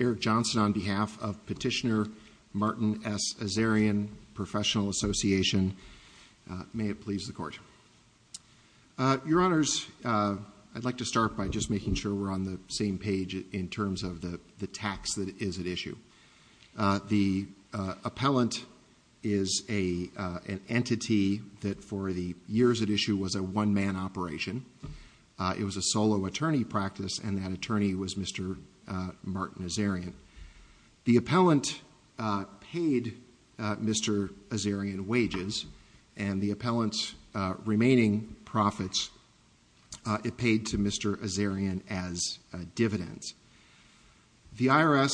Eric Johnson on behalf of Petitioner Martin S. Azarian Professional Association. May it please the Court. Your Honors, I'd like to start by just making sure we're on the same page in terms of the tax that is at issue. The appellant is an entity that for the years at issue was a one-man operation. It was a solo attorney practice and that attorney was Mr. Martin Azarian. The appellant paid Mr. Azarian wages and the appellant's remaining profits it paid to Mr. Azarian as dividends. The IRS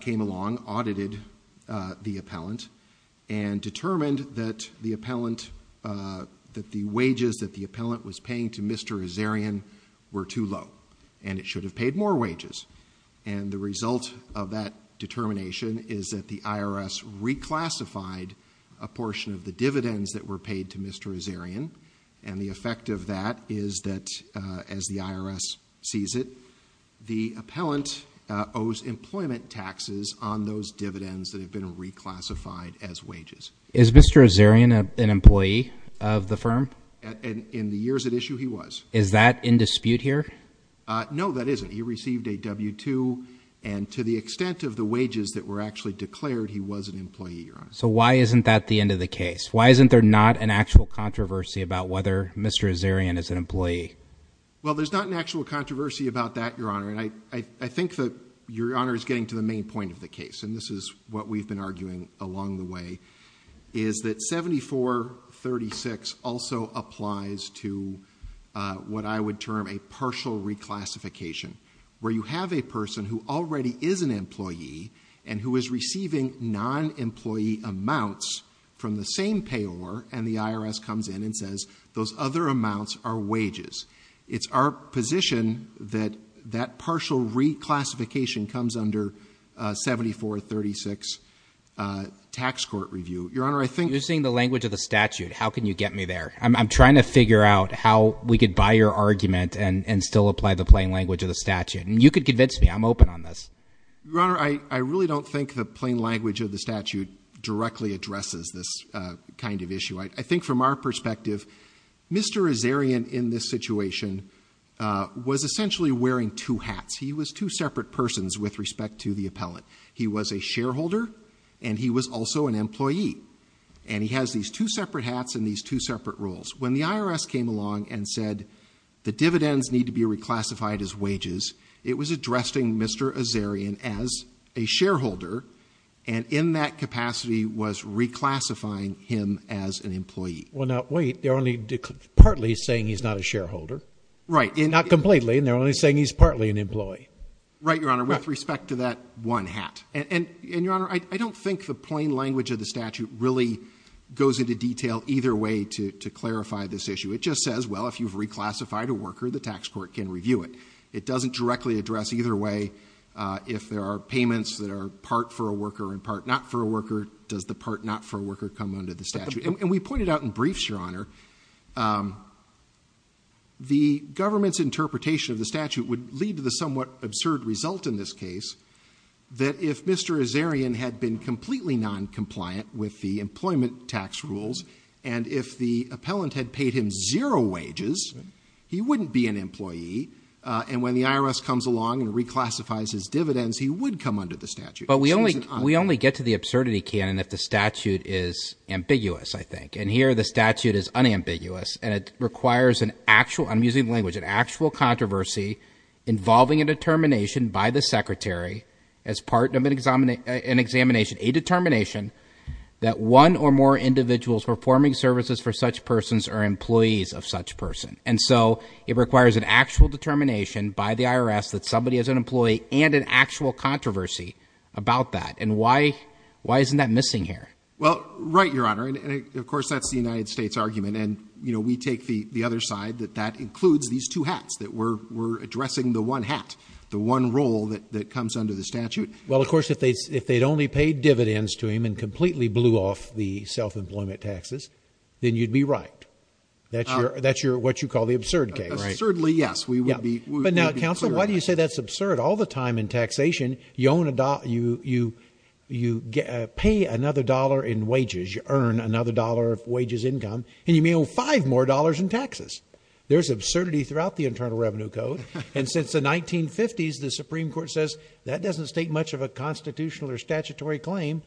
came along, audited the appellant and determined that the wages that the appellant was paying to Mr. Azarian were too low and it should have paid more wages. The result of that determination is that the IRS reclassified a portion of the dividends that were paid to Mr. Azarian and the effect of that is that as the IRS sees it, the appellant owes employment taxes on those dividends that have been reclassified as wages. Is Mr. Azarian an employee of the firm? In the years at issue, he was. Is that in dispute here? No, that isn't. He received a W-2 and to the extent of the wages that were actually declared, he was an employee. So why isn't that the end of the case? Why isn't there not an actual controversy about whether Mr. Azarian is an employee? Well, there's not an actual controversy about that, Your Honor, and I think that Your Honor is getting to the main point of the case and this is what we've been arguing along the way is that 7436 also applies to what I would term a partial reclassification where you have a person who already is an employee and who is receiving non-employee amounts from the same payor and the IRS comes in and says those other amounts are wages. It's our position that that partial reclassification comes under 7436 tax court review. Your Honor, I think You're seeing the language of the statute. How can you get me there? I'm trying to figure out how we could buy your argument and still apply the plain language of the statute. You could convince me. I'm open on this. Your Honor, I really don't think the plain language of the statute directly addresses this kind of issue. I think from our perspective, Mr. Azarian in this situation was essentially wearing two hats. He was two separate persons with respect to the appellant. He was a shareholder and he was also an employee and he has these two separate hats and these two separate roles. When the IRS came along and said the dividends need to be reclassified as wages, it was addressing Mr. Azarian as a shareholder and in that capacity was reclassifying him as an employee. Well now wait, they're only partly saying he's not a shareholder. Right. Not completely and they're only saying he's partly an employee. Right, Your Honor, with respect to that one hat. And Your Honor, I don't think the plain language of the statute really goes into detail either way to clarify this issue. It just says, well if you've reclassified a worker, the tax court can review it. It doesn't directly address either way if there are payments that are part for a worker and part not for a worker. Does the part not for a worker come under the statute? And we pointed out in briefs, Your Honor, the government's interpretation of the statute would lead to the somewhat absurd result in this case that if Mr. Azarian had been completely noncompliant with the employment tax rules and if the appellant had paid him zero wages, he wouldn't be an employee and when the IRS comes along and reclassifies his dividends, he would come under the statute. But we only get to the absurdity, Ken, if the statute is ambiguous, I think. And here the statute is unambiguous and it requires an actual, I'm using language, an actual controversy involving a determination by the secretary as part of an examination, a determination that one or more individuals performing services for such persons are employees of such person. And so it requires an actual determination by the IRS that somebody is an employee and an actual controversy about that. And why, why isn't that missing here? Well, right, Your Honor. And of course, that's the United States argument. And, you know, we take the other side that that includes these two hats that we're addressing the one hat, the one role that comes under the statute. Well, of course, if they'd only paid dividends to him and completely blew off the self-employment taxes, then you'd be right. That's what you heard all the time in taxation. You own a, you, you, you pay another dollar in wages, you earn another dollar of wages, income, and you may owe five more dollars in taxes. There's absurdity throughout the Internal Revenue Code. And since the 1950s, the Supreme Court says that doesn't state much of a constitutional or statutory claim.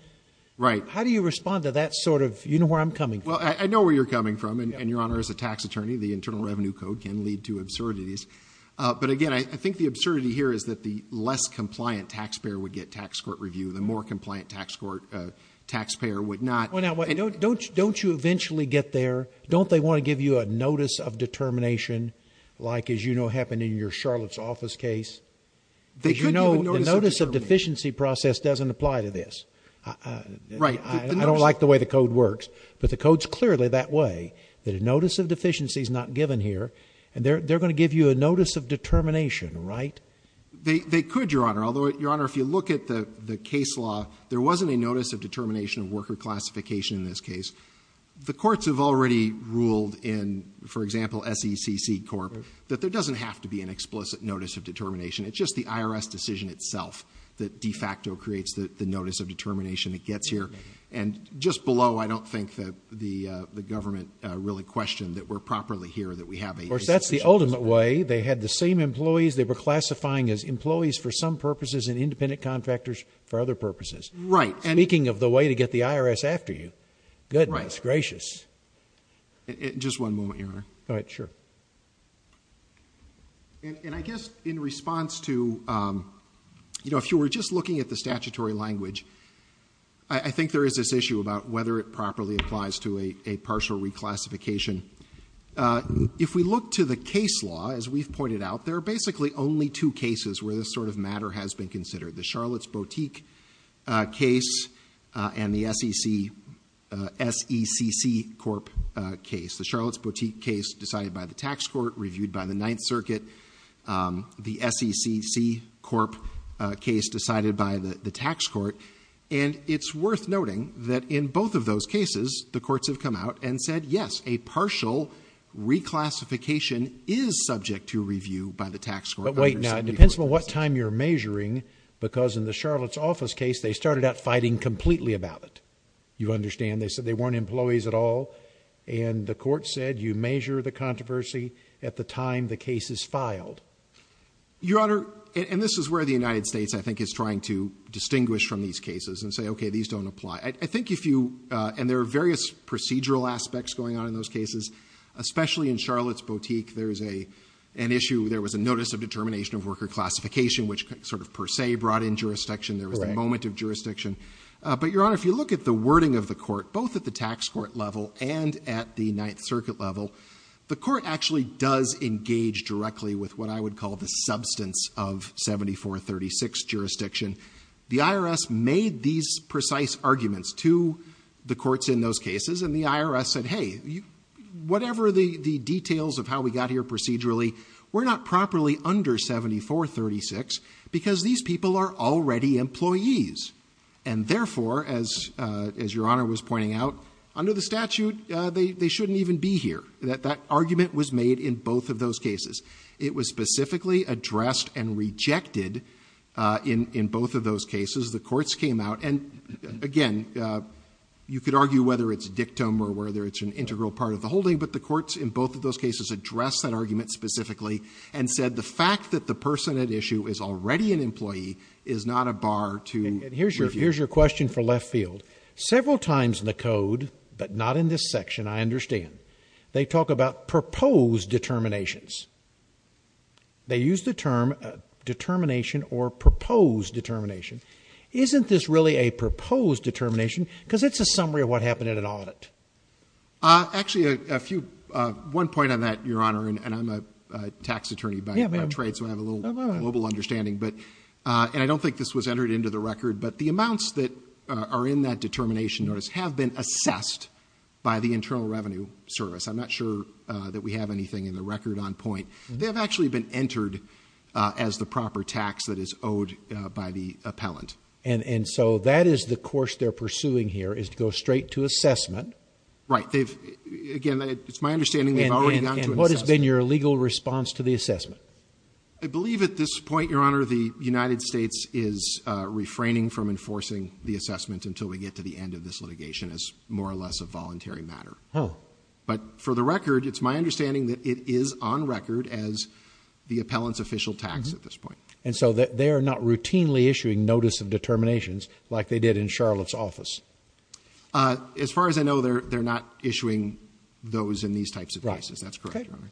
Right. How do you respond to that sort of, you know where I'm coming from? Well, I know where you're coming from. And Your Honor, as a tax attorney, the Internal Revenue Code can lead to absurdities. But again, I think the absurdity here is that the less compliant taxpayer would get tax court review, the more compliant tax court taxpayer would not. Well, now, don't you eventually get there? Don't they want to give you a notice of determination? Like, as you know, happened in your Charlotte's office case. They could notice of deficiency process doesn't apply to this. Right. I don't like the way the code works. But the code's clearly that way, that a notice of deficiency is not given here. And they're going to give you a notice of determination. Right. They could, Your Honor. Although, Your Honor, if you look at the case law, there wasn't a notice of determination of worker classification in this case. The courts have already ruled in, for example, SECC Corp, that there doesn't have to be an explicit notice of determination. It's just the IRS decision itself that de facto creates the notice of determination that gets here. And just below, I don't think that the government really questioned that we're properly here, that we have a decision. Of course, that's the ultimate way. They had the same employees. They were classifying as employees for some purposes and independent contractors for other purposes. Right. And speaking of the way to get the IRS after you, goodness gracious. Right. Just one moment, Your Honor. All right. Sure. And I guess in response to, you know, if you were just looking at the statutory language, I think there is this issue about whether it properly applies to a partial reclassification. If we look to the case law, as we've pointed out, there are basically only two cases where this sort of matter has been considered. The Charlotte's Boutique case and the SECC Corp case. The Charlotte's Boutique case decided by the tax court, reviewed by the Ninth Circuit. The SECC Corp case decided by the tax court. And it's worth noting that in both of those cases, the courts have come out and said, yes, a partial reclassification is subject to review by the tax court. But wait now, it depends on what time you're measuring, because in the Charlotte's office case, they started out fighting completely about it. You understand? They said they weren't employees at all. And the court said you measure the Your Honor, and this is where the United States, I think, is trying to distinguish from these cases and say, okay, these don't apply. I think if you, and there are various procedural aspects going on in those cases, especially in Charlotte's Boutique, there is a, an issue, there was a notice of determination of worker classification, which sort of per se brought in jurisdiction. There was a moment of jurisdiction. But, Your Honor, if you look at the wording of the court, both at the tax court level and at the Ninth Circuit level, the court actually does engage directly with what I would call the substance of 7436 jurisdiction. The IRS made these precise arguments to the courts in those cases, and the IRS said, hey, whatever the details of how we got here procedurally, we're not properly under 7436, because these people are already employees. And therefore, as, as Your Honor was pointing out, under the statute, they, they shouldn't even be here. That, that argument was made in both of those cases. It was specifically addressed and rejected in, in both of those cases. The courts came out, and again, you could argue whether it's a dictum or whether it's an integral part of the holding, but the courts in both of those cases addressed that argument specifically and said the fact that the person at issue is already an employee is not a bar to review. Here's, here's your question for left field. Several times in the code, but not in this section, I understand, they talk about proposed determinations. They use the term determination or proposed determination. Isn't this really a proposed determination? Because it's a summary of what happened in an audit. Actually a few, one point on that, Your Honor, and I'm a tax attorney by trade, so I have a little global understanding, but, and I don't think this was entered into the record, but the amounts that are in that determination notice have been assessed by the Internal Revenue Service. I'm not sure that we have anything in the record on point. They have actually been entered as the proper tax that is owed by the appellant. And so that is the course they're pursuing here is to go straight to assessment. Right. They've, again, it's my understanding they've already gone to assessment. And what has been your legal response to the assessment? I believe at this point, Your Honor, the United States is refraining from enforcing the assessment until we get to the end of this litigation as more or less a voluntary matter. But for the record, it's my understanding that it is on record as the appellant's official tax at this point. And so they are not routinely issuing notice of determinations like they did in Charlotte's office? As far as I know, they're not issuing those in these types of cases. That's correct, Your Honor.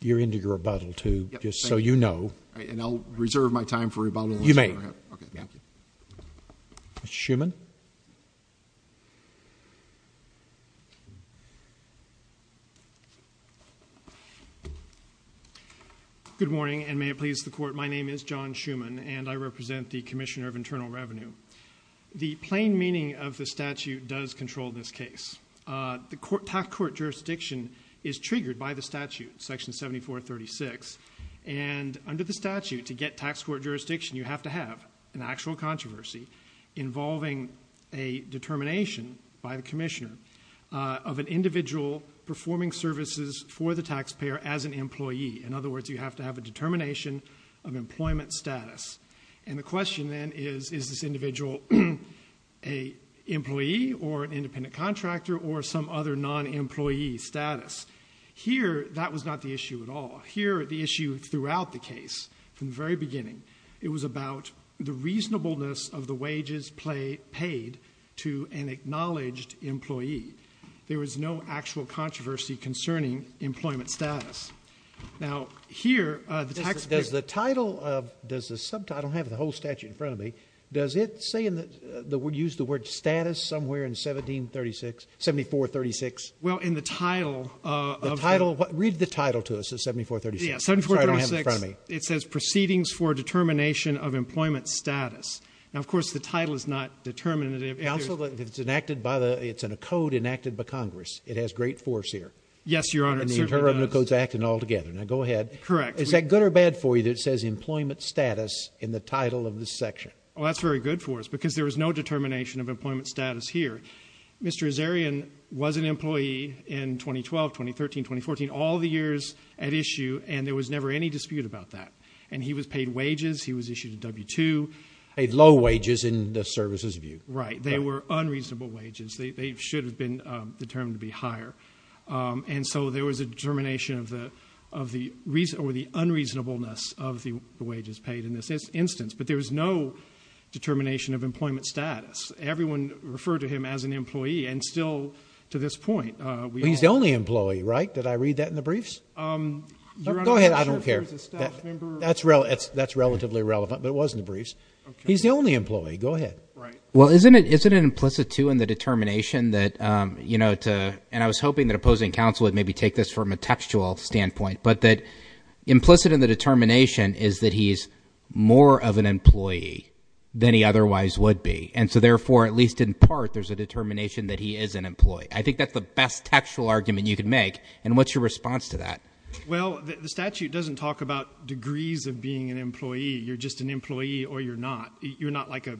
You're into your rebuttal, too, just so you know. And I'll reserve my time for rebuttal. You may. Thank you. Mr. Schuman? Good morning, and may it please the Court, my name is John Schuman, and I represent the Commissioner of Internal Revenue. The plain meaning of the statute does control this case. The tax court jurisdiction is triggered by the statute, Section 7436, and under the statute, to get tax court jurisdiction, you have to have an actual controversy involving a determination by the Commissioner of an individual performing services for the taxpayer as an employee. In other words, you have to have a determination of employment status. And the question then is, is this individual an employee or an independent contractor or some other non-employee status? Here, that was not the issue at all. Here the issue throughout the case, from the very beginning, it was about the reasonableness of the wages paid to an acknowledged employee. There was no actual controversy concerning employment status. Now, here, the tax court... Does the title of, does the subtitle have the whole statute in front of me? Does it say in the, use the word status somewhere in 1736, 7436? Well in the title of... The title, read the title to us, the 7436. Yeah, 7436. Sorry, I don't have it in front of me. It says Proceedings for Determination of Employment Status. Now, of course, the title is not determinative. Also, it's enacted by the, it's in a code enacted by Congress. It has great force here. Yes, Your Honor, it certainly does. It's in the terms of the codes acting all together. Now, go ahead. Correct. Is that good or bad for you that it says Employment Status in the title of this section? Oh, that's very good for us because there was no determination of employment status here. Mr. Azarian was an employee in 2012, 2013, 2014, all the years at issue and there was never any dispute about that. And he was paid wages. He was issued a W-2. Paid low wages in the services view. Right. They were unreasonable wages. They should have been determined to be higher. And so, there was a determination of the unreasonableness of the wages paid in this instance. But there was no determination of employment status. Everyone referred to him as an employee and still to this point. He's the only employee, right? Did I read that in the briefs? I don't care. Your Honor, I'm not sure if he was a staff member. That's relatively relevant. But it was in the briefs. Okay. He's the only employee. Go ahead. Right. Well, isn't it implicit, too, in the determination that, you know, and I was hoping that opposing counsel would maybe take this from a textual standpoint. But that implicit in the determination is that he's more of an employee than he otherwise would be. And so, therefore, at least in part, there's a determination that he is an employee. I think that's the best textual argument you could make. And what's your response to that? Well, the statute doesn't talk about degrees of being an employee. You're just an employee or you're not. You're not like a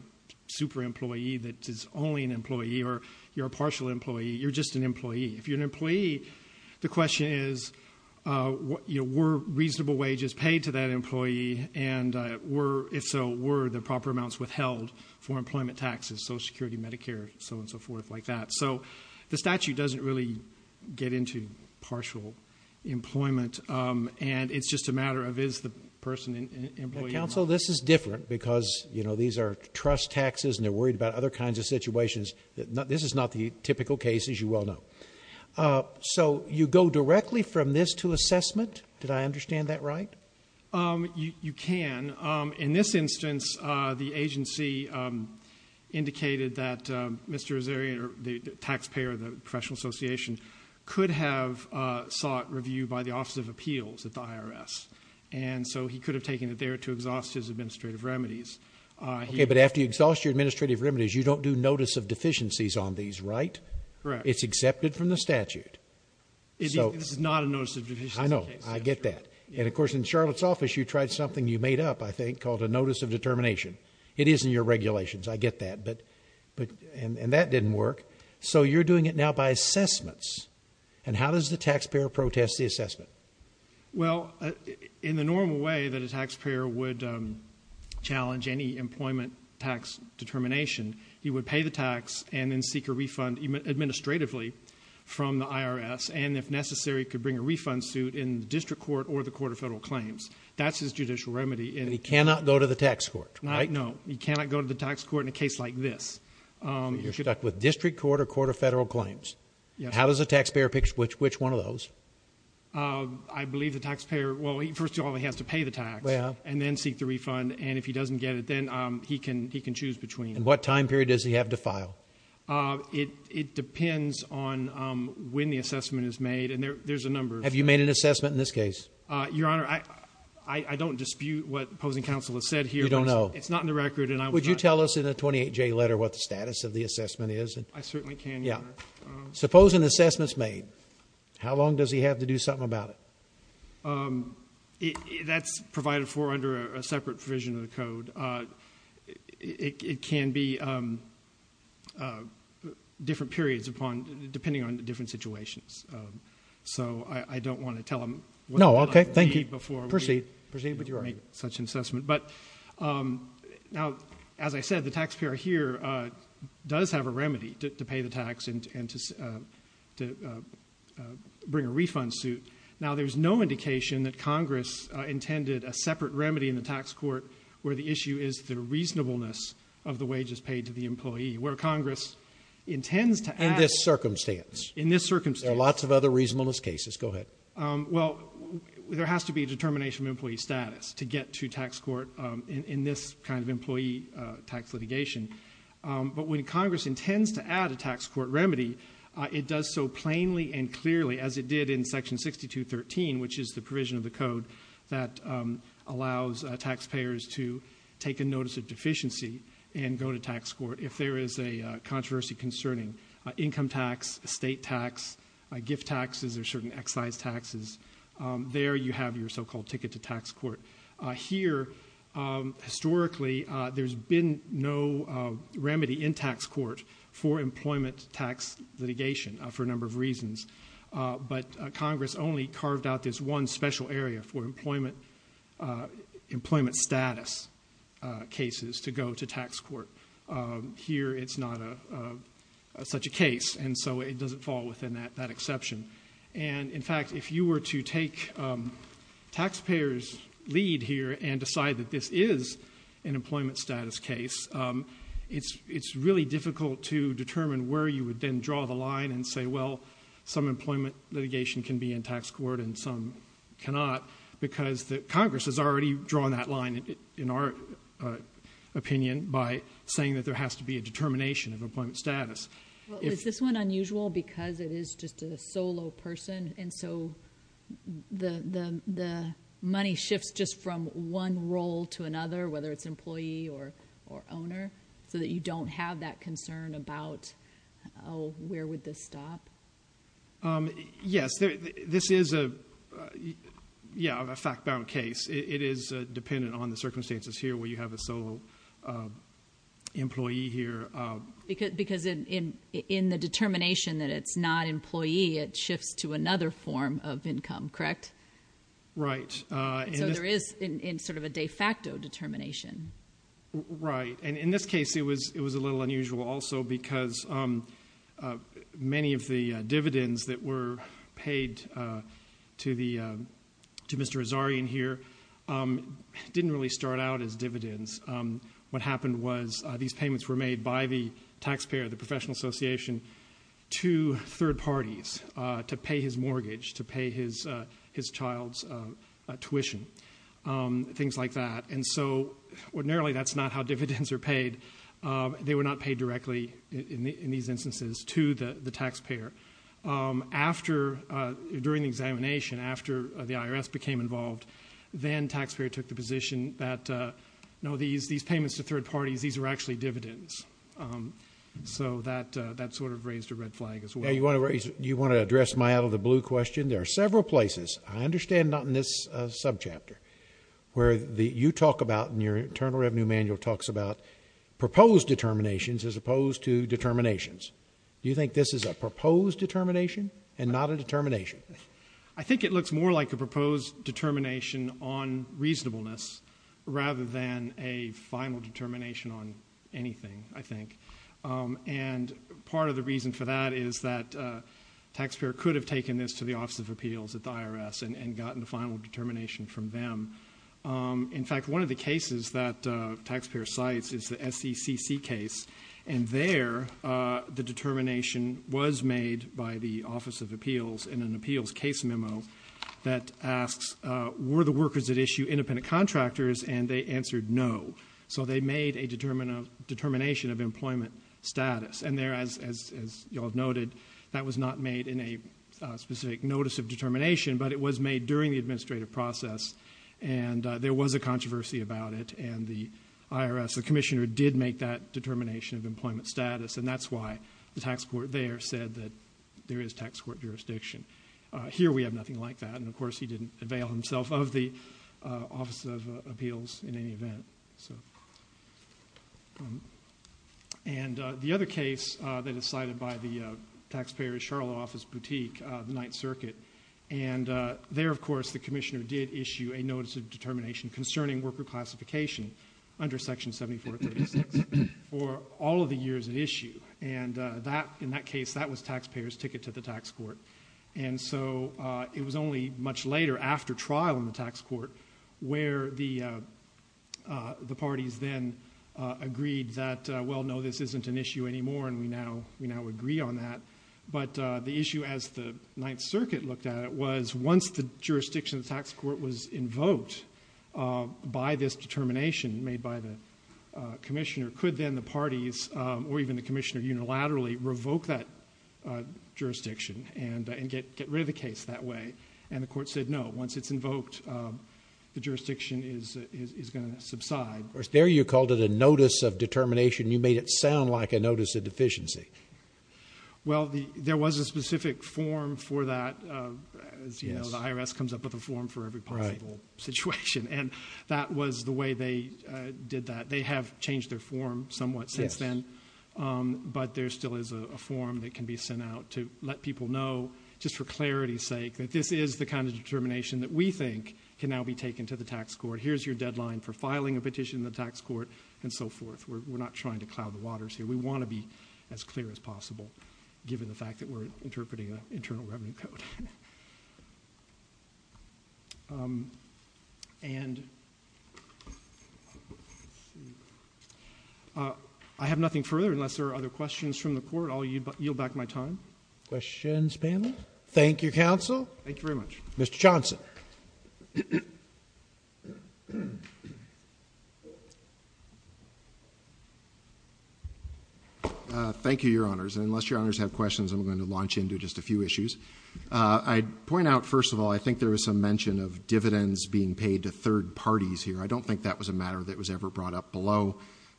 super employee that is only an employee or you're a partial employee. You're just an employee. If you're an employee, the question is, you know, were reasonable wages paid to that employee and were, if so, were the proper amounts withheld for employment taxes, Social Security, Medicare, so on and so forth like that. So, the statute doesn't really get into partial employment. And it's just a matter of is the person an employee or not. So this is different because, you know, these are trust taxes and they're worried about other kinds of situations. This is not the typical case, as you well know. So you go directly from this to assessment? Did I understand that right? You can. In this instance, the agency indicated that Mr. Azarian, the taxpayer of the professional So he could have taken it there to exhaust his administrative remedies. Okay, but after you exhaust your administrative remedies, you don't do notice of deficiencies on these, right? Correct. It's accepted from the statute. It's not a notice of deficiencies case. I know. I get that. And of course, in Charlotte's office, you tried something you made up, I think, called a notice of determination. It is in your regulations. I get that. And that didn't work. So you're doing it now by assessments. And how does the taxpayer protest the assessment? Well, in the normal way that a taxpayer would challenge any employment tax determination, he would pay the tax and then seek a refund administratively from the IRS. And if necessary, he could bring a refund suit in the district court or the court of federal claims. That's his judicial remedy. And he cannot go to the tax court, right? No. He cannot go to the tax court in a case like this. You're stuck with district court or court of federal claims. Yes. How does a taxpayer pick which one of those? I believe the taxpayer, well, first of all, he has to pay the tax and then seek the refund. And if he doesn't get it, then he can choose between. And what time period does he have to file? It depends on when the assessment is made. And there's a number. Have you made an assessment in this case? Your Honor, I don't dispute what opposing counsel has said here. You don't know? It's not in the record. And I would not. Would you tell us in a 28J letter what the status of the assessment is? I certainly can, Your Honor. Suppose an assessment's made. How long does he have to do something about it? That's provided for under a separate provision of the code. It can be different periods depending on the different situations. So I don't want to tell him what it might be before we make such an assessment. But, now, as I said, the taxpayer here does have a remedy to pay the tax and to bring a refund suit. Now, there's no indication that Congress intended a separate remedy in the tax court where the issue is the reasonableness of the wages paid to the employee, where Congress intends to act. In this circumstance? In this circumstance. There are lots of other reasonableness cases. Go ahead. Well, there has to be a determination of employee status to get to tax court in this kind of employee tax litigation. But when Congress intends to add a tax court remedy, it does so plainly and clearly as it did in Section 6213, which is the provision of the code that allows taxpayers to take a notice of deficiency and go to tax court if there is a controversy concerning income tax, estate tax, gift taxes, or certain excise taxes. There you have your so-called ticket to tax court. Here, historically, there's been no remedy in tax court for employment tax litigation for a number of reasons. But Congress only carved out this one special area for employment status cases to go to tax court. Here, it's not such a case, and so it doesn't fall within that exception. And in fact, if you were to take taxpayers' lead here and decide that this is an employment status case, it's really difficult to determine where you would then draw the line and say, well, some employment litigation can be in tax court and some cannot, because Congress has already drawn that line, in our opinion, by saying that there has to be a determination of employment status. Well, is this one unusual because it is just a solo person, and so the money shifts just from one role to another, whether it's employee or owner, so that you don't have that concern about, oh, where would this stop? Yes. This is a fact-bound case. It is dependent on the circumstances here, where you have a solo employee here. Because in the determination that it's not employee, it shifts to another form of income, correct? Right. So there is sort of a de facto determination. Right. And in this case, it was a little unusual also, because many of the dividends that were paid to Mr. Azarian here didn't really start out as dividends. What happened was these payments were made by the taxpayer, the professional association, to third parties to pay his mortgage, to pay his child's tuition, things like that. And so ordinarily, that's not how dividends are paid. They were not paid directly in these instances to the taxpayer. During the examination, after the IRS became involved, then taxpayer took the position that, no, these payments to third parties, these are actually dividends. So that sort of raised a red flag as well. You want to address my out of the blue question? There are several places, I understand not in this subchapter, where the Utah Internal Revenue Manual talks about proposed determinations as opposed to determinations. You think this is a proposed determination and not a determination? I think it looks more like a proposed determination on reasonableness rather than a final determination on anything, I think. And part of the reason for that is that taxpayer could have taken this to the Office of Appeals at the IRS and gotten the final determination from them. In fact, one of the cases that taxpayer cites is the SECC case, and there, the determination was made by the Office of Appeals in an appeals case memo that asks, were the workers at issue independent contractors? And they answered no. So they made a determination of employment status. And there, as you all noted, that was not made in a specific notice of determination, but it was made during the administrative process. And there was a controversy about it, and the IRS, the commissioner, did make that determination of employment status. And that's why the tax court there said that there is tax court jurisdiction. Here we have nothing like that. And of course, he didn't avail himself of the Office of Appeals in any event. And the other case that is cited by the taxpayer's Charlotte office boutique, the Ninth Circuit, and there, of course, the commissioner did issue a notice of determination concerning worker classification under Section 7436 for all of the years at issue. And in that case, that was taxpayer's ticket to the tax court. And so it was only much later, after trial in the tax court, where the parties then agreed that, well, no, this isn't an issue anymore, and we now agree on that. But the issue, as the Ninth Circuit looked at it, was once the jurisdiction of the tax court was invoked by this determination made by the commissioner, could then the parties, or even the commissioner, unilaterally revoke that jurisdiction. And get rid of the case that way. And the court said, no, once it's invoked, the jurisdiction is going to subside. Or there you called it a notice of determination. You made it sound like a notice of deficiency. Well, there was a specific form for that, as you know, the IRS comes up with a form for every possible situation. And that was the way they did that. They have changed their form somewhat since then. But there still is a form that can be sent out to let people know, just for clarity's sake, that this is the kind of determination that we think can now be taken to the tax court. Here's your deadline for filing a petition in the tax court, and so forth. We're not trying to cloud the waters here. We want to be as clear as possible, given the fact that we're interpreting an internal revenue code. And I have nothing further, unless there are other questions from the court. I'll yield back my time. Questions, panel? Thank you, counsel. Thank you very much. Mr. Johnson. Thank you, Your Honors. And unless Your Honors have questions, I'm going to launch into just a few issues. I'd point out, first of all, I think there was some mention of dividends being paid to third parties here. I don't think that was a matter that was ever brought up below.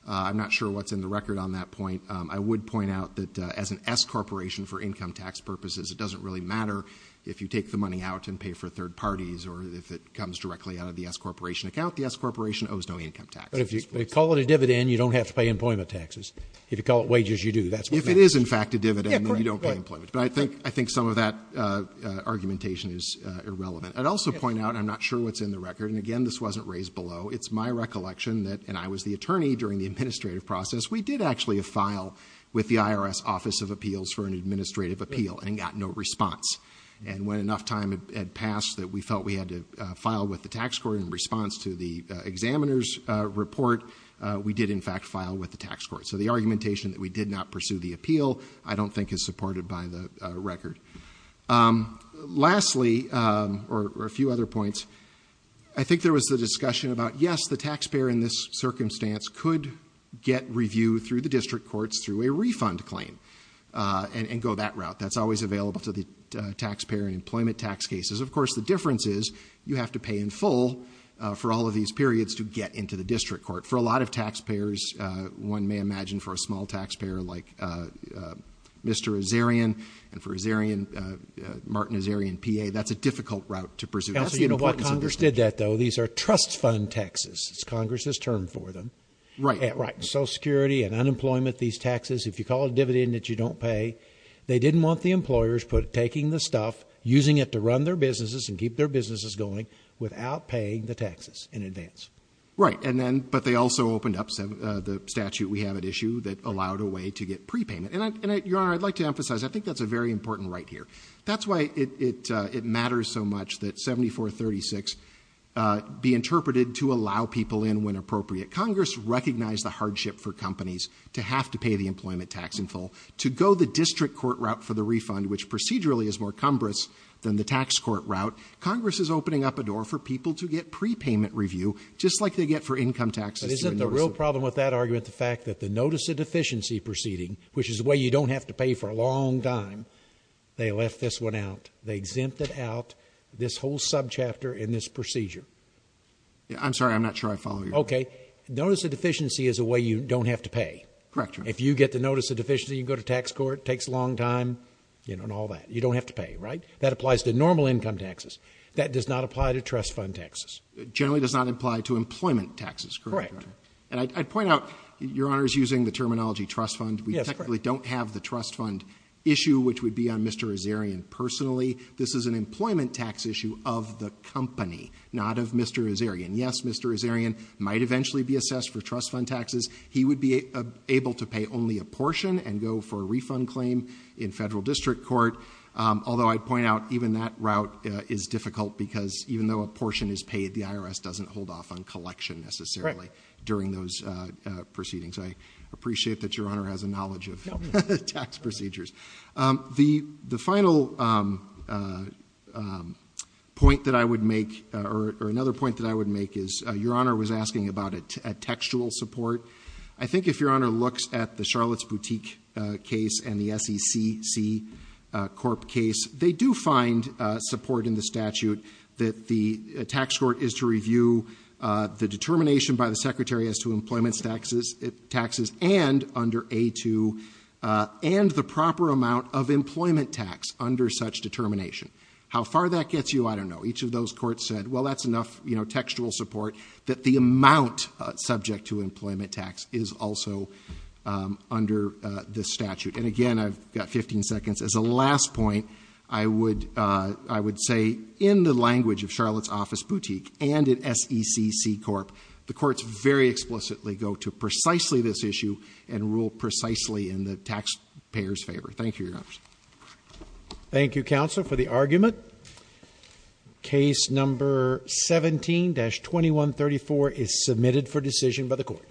I'm not sure what's in the record on that point. I would point out that, as an S-corporation for income tax purposes, it doesn't really matter if you take the money out and pay for third parties, or if it comes directly out of the S-corporation account. The S-corporation owes no income taxes. But if you call it a dividend, you don't have to pay employment taxes. If you call it wages, you do. That's what matters. If it is, in fact, a dividend, then you don't pay employment. But I think some of that argumentation is irrelevant. I'd also point out, I'm not sure what's in the record. And again, this wasn't raised below. It's my recollection that, and I was the attorney during the administrative process, we did actually file with the IRS Office of Appeals for an administrative appeal and got no response. And when enough time had passed that we felt we had to file with the tax court in response to the examiner's report, we did, in fact, file with the tax court. So the argumentation that we did not pursue the appeal I don't think is supported by the record. Lastly, or a few other points, I think there was the discussion about, yes, the taxpayer in this circumstance could get review through the district courts through a refund claim and go that route. That's always available to the taxpayer in employment tax cases. Of course, the difference is you have to pay in full for all of these periods to get into the district court. For a lot of taxpayers, one may imagine for a small taxpayer like Mr. Azarian and for Azarian, Martin Azarian, PA, that's a difficult route to pursue. That's the importance of this issue. So you know why Congress did that, though? These are trust fund taxes, it's Congress's term for them. Right. Right. Social Security and unemployment, these taxes, if you call a dividend that you don't pay, they didn't want the employers taking the stuff, using it to run their businesses and keep their businesses going without paying the taxes in advance. Right. But they also opened up the statute we have at issue that allowed a way to get prepayment. And, Your Honor, I'd like to emphasize, I think that's a very important right here. That's why it matters so much that 7436 be interpreted to allow people in when appropriate. Congress recognized the hardship for companies to have to pay the employment tax in full to go the district court route for the refund, which procedurally is more cumbersome than the tax court route. Congress is opening up a door for people to get prepayment review, just like they get for income taxes. But isn't the real problem with that argument the fact that the notice of deficiency proceeding, which is a way you don't have to pay for a long time, they left this one out. They exempted out this whole subchapter in this procedure. I'm sorry, I'm not sure I follow you. Okay. Notice of deficiency is a way you don't have to pay. Correct, Your Honor. If you get the notice of deficiency, you go to tax court, takes a long time, you know, and all that. You don't have to pay, right? That applies to normal income taxes. That does not apply to trust fund taxes. It generally does not apply to employment taxes, correct? Correct. And I'd point out, Your Honor is using the terminology trust fund. Yes, correct. We technically don't have the trust fund issue, which would be on Mr. Azarian personally. This is an employment tax issue of the company, not of Mr. Azarian. Yes, Mr. Azarian might eventually be assessed for trust fund taxes. He would be able to pay only a portion and go for a refund claim in federal district doesn't hold off on collection necessarily during those proceedings. I appreciate that Your Honor has a knowledge of tax procedures. The final point that I would make, or another point that I would make, is Your Honor was asking about a textual support. I think if Your Honor looks at the Charlotte's Boutique case and the SECC Corp case, they do find support in the statute that the tax court is to review the determination by the secretary as to employment taxes and under A2, and the proper amount of employment tax under such determination. How far that gets you, I don't know. Each of those courts said, well, that's enough textual support that the amount subject to employment tax is also under the statute. And again, I've got 15 seconds. As a last point, I would say in the language of Charlotte's Office Boutique and in SECC Corp, the courts very explicitly go to precisely this issue and rule precisely in the taxpayer's Thank you, Your Honor. Thank you, counsel, for the argument. Case number 17-2134 is submitted for decision by the court.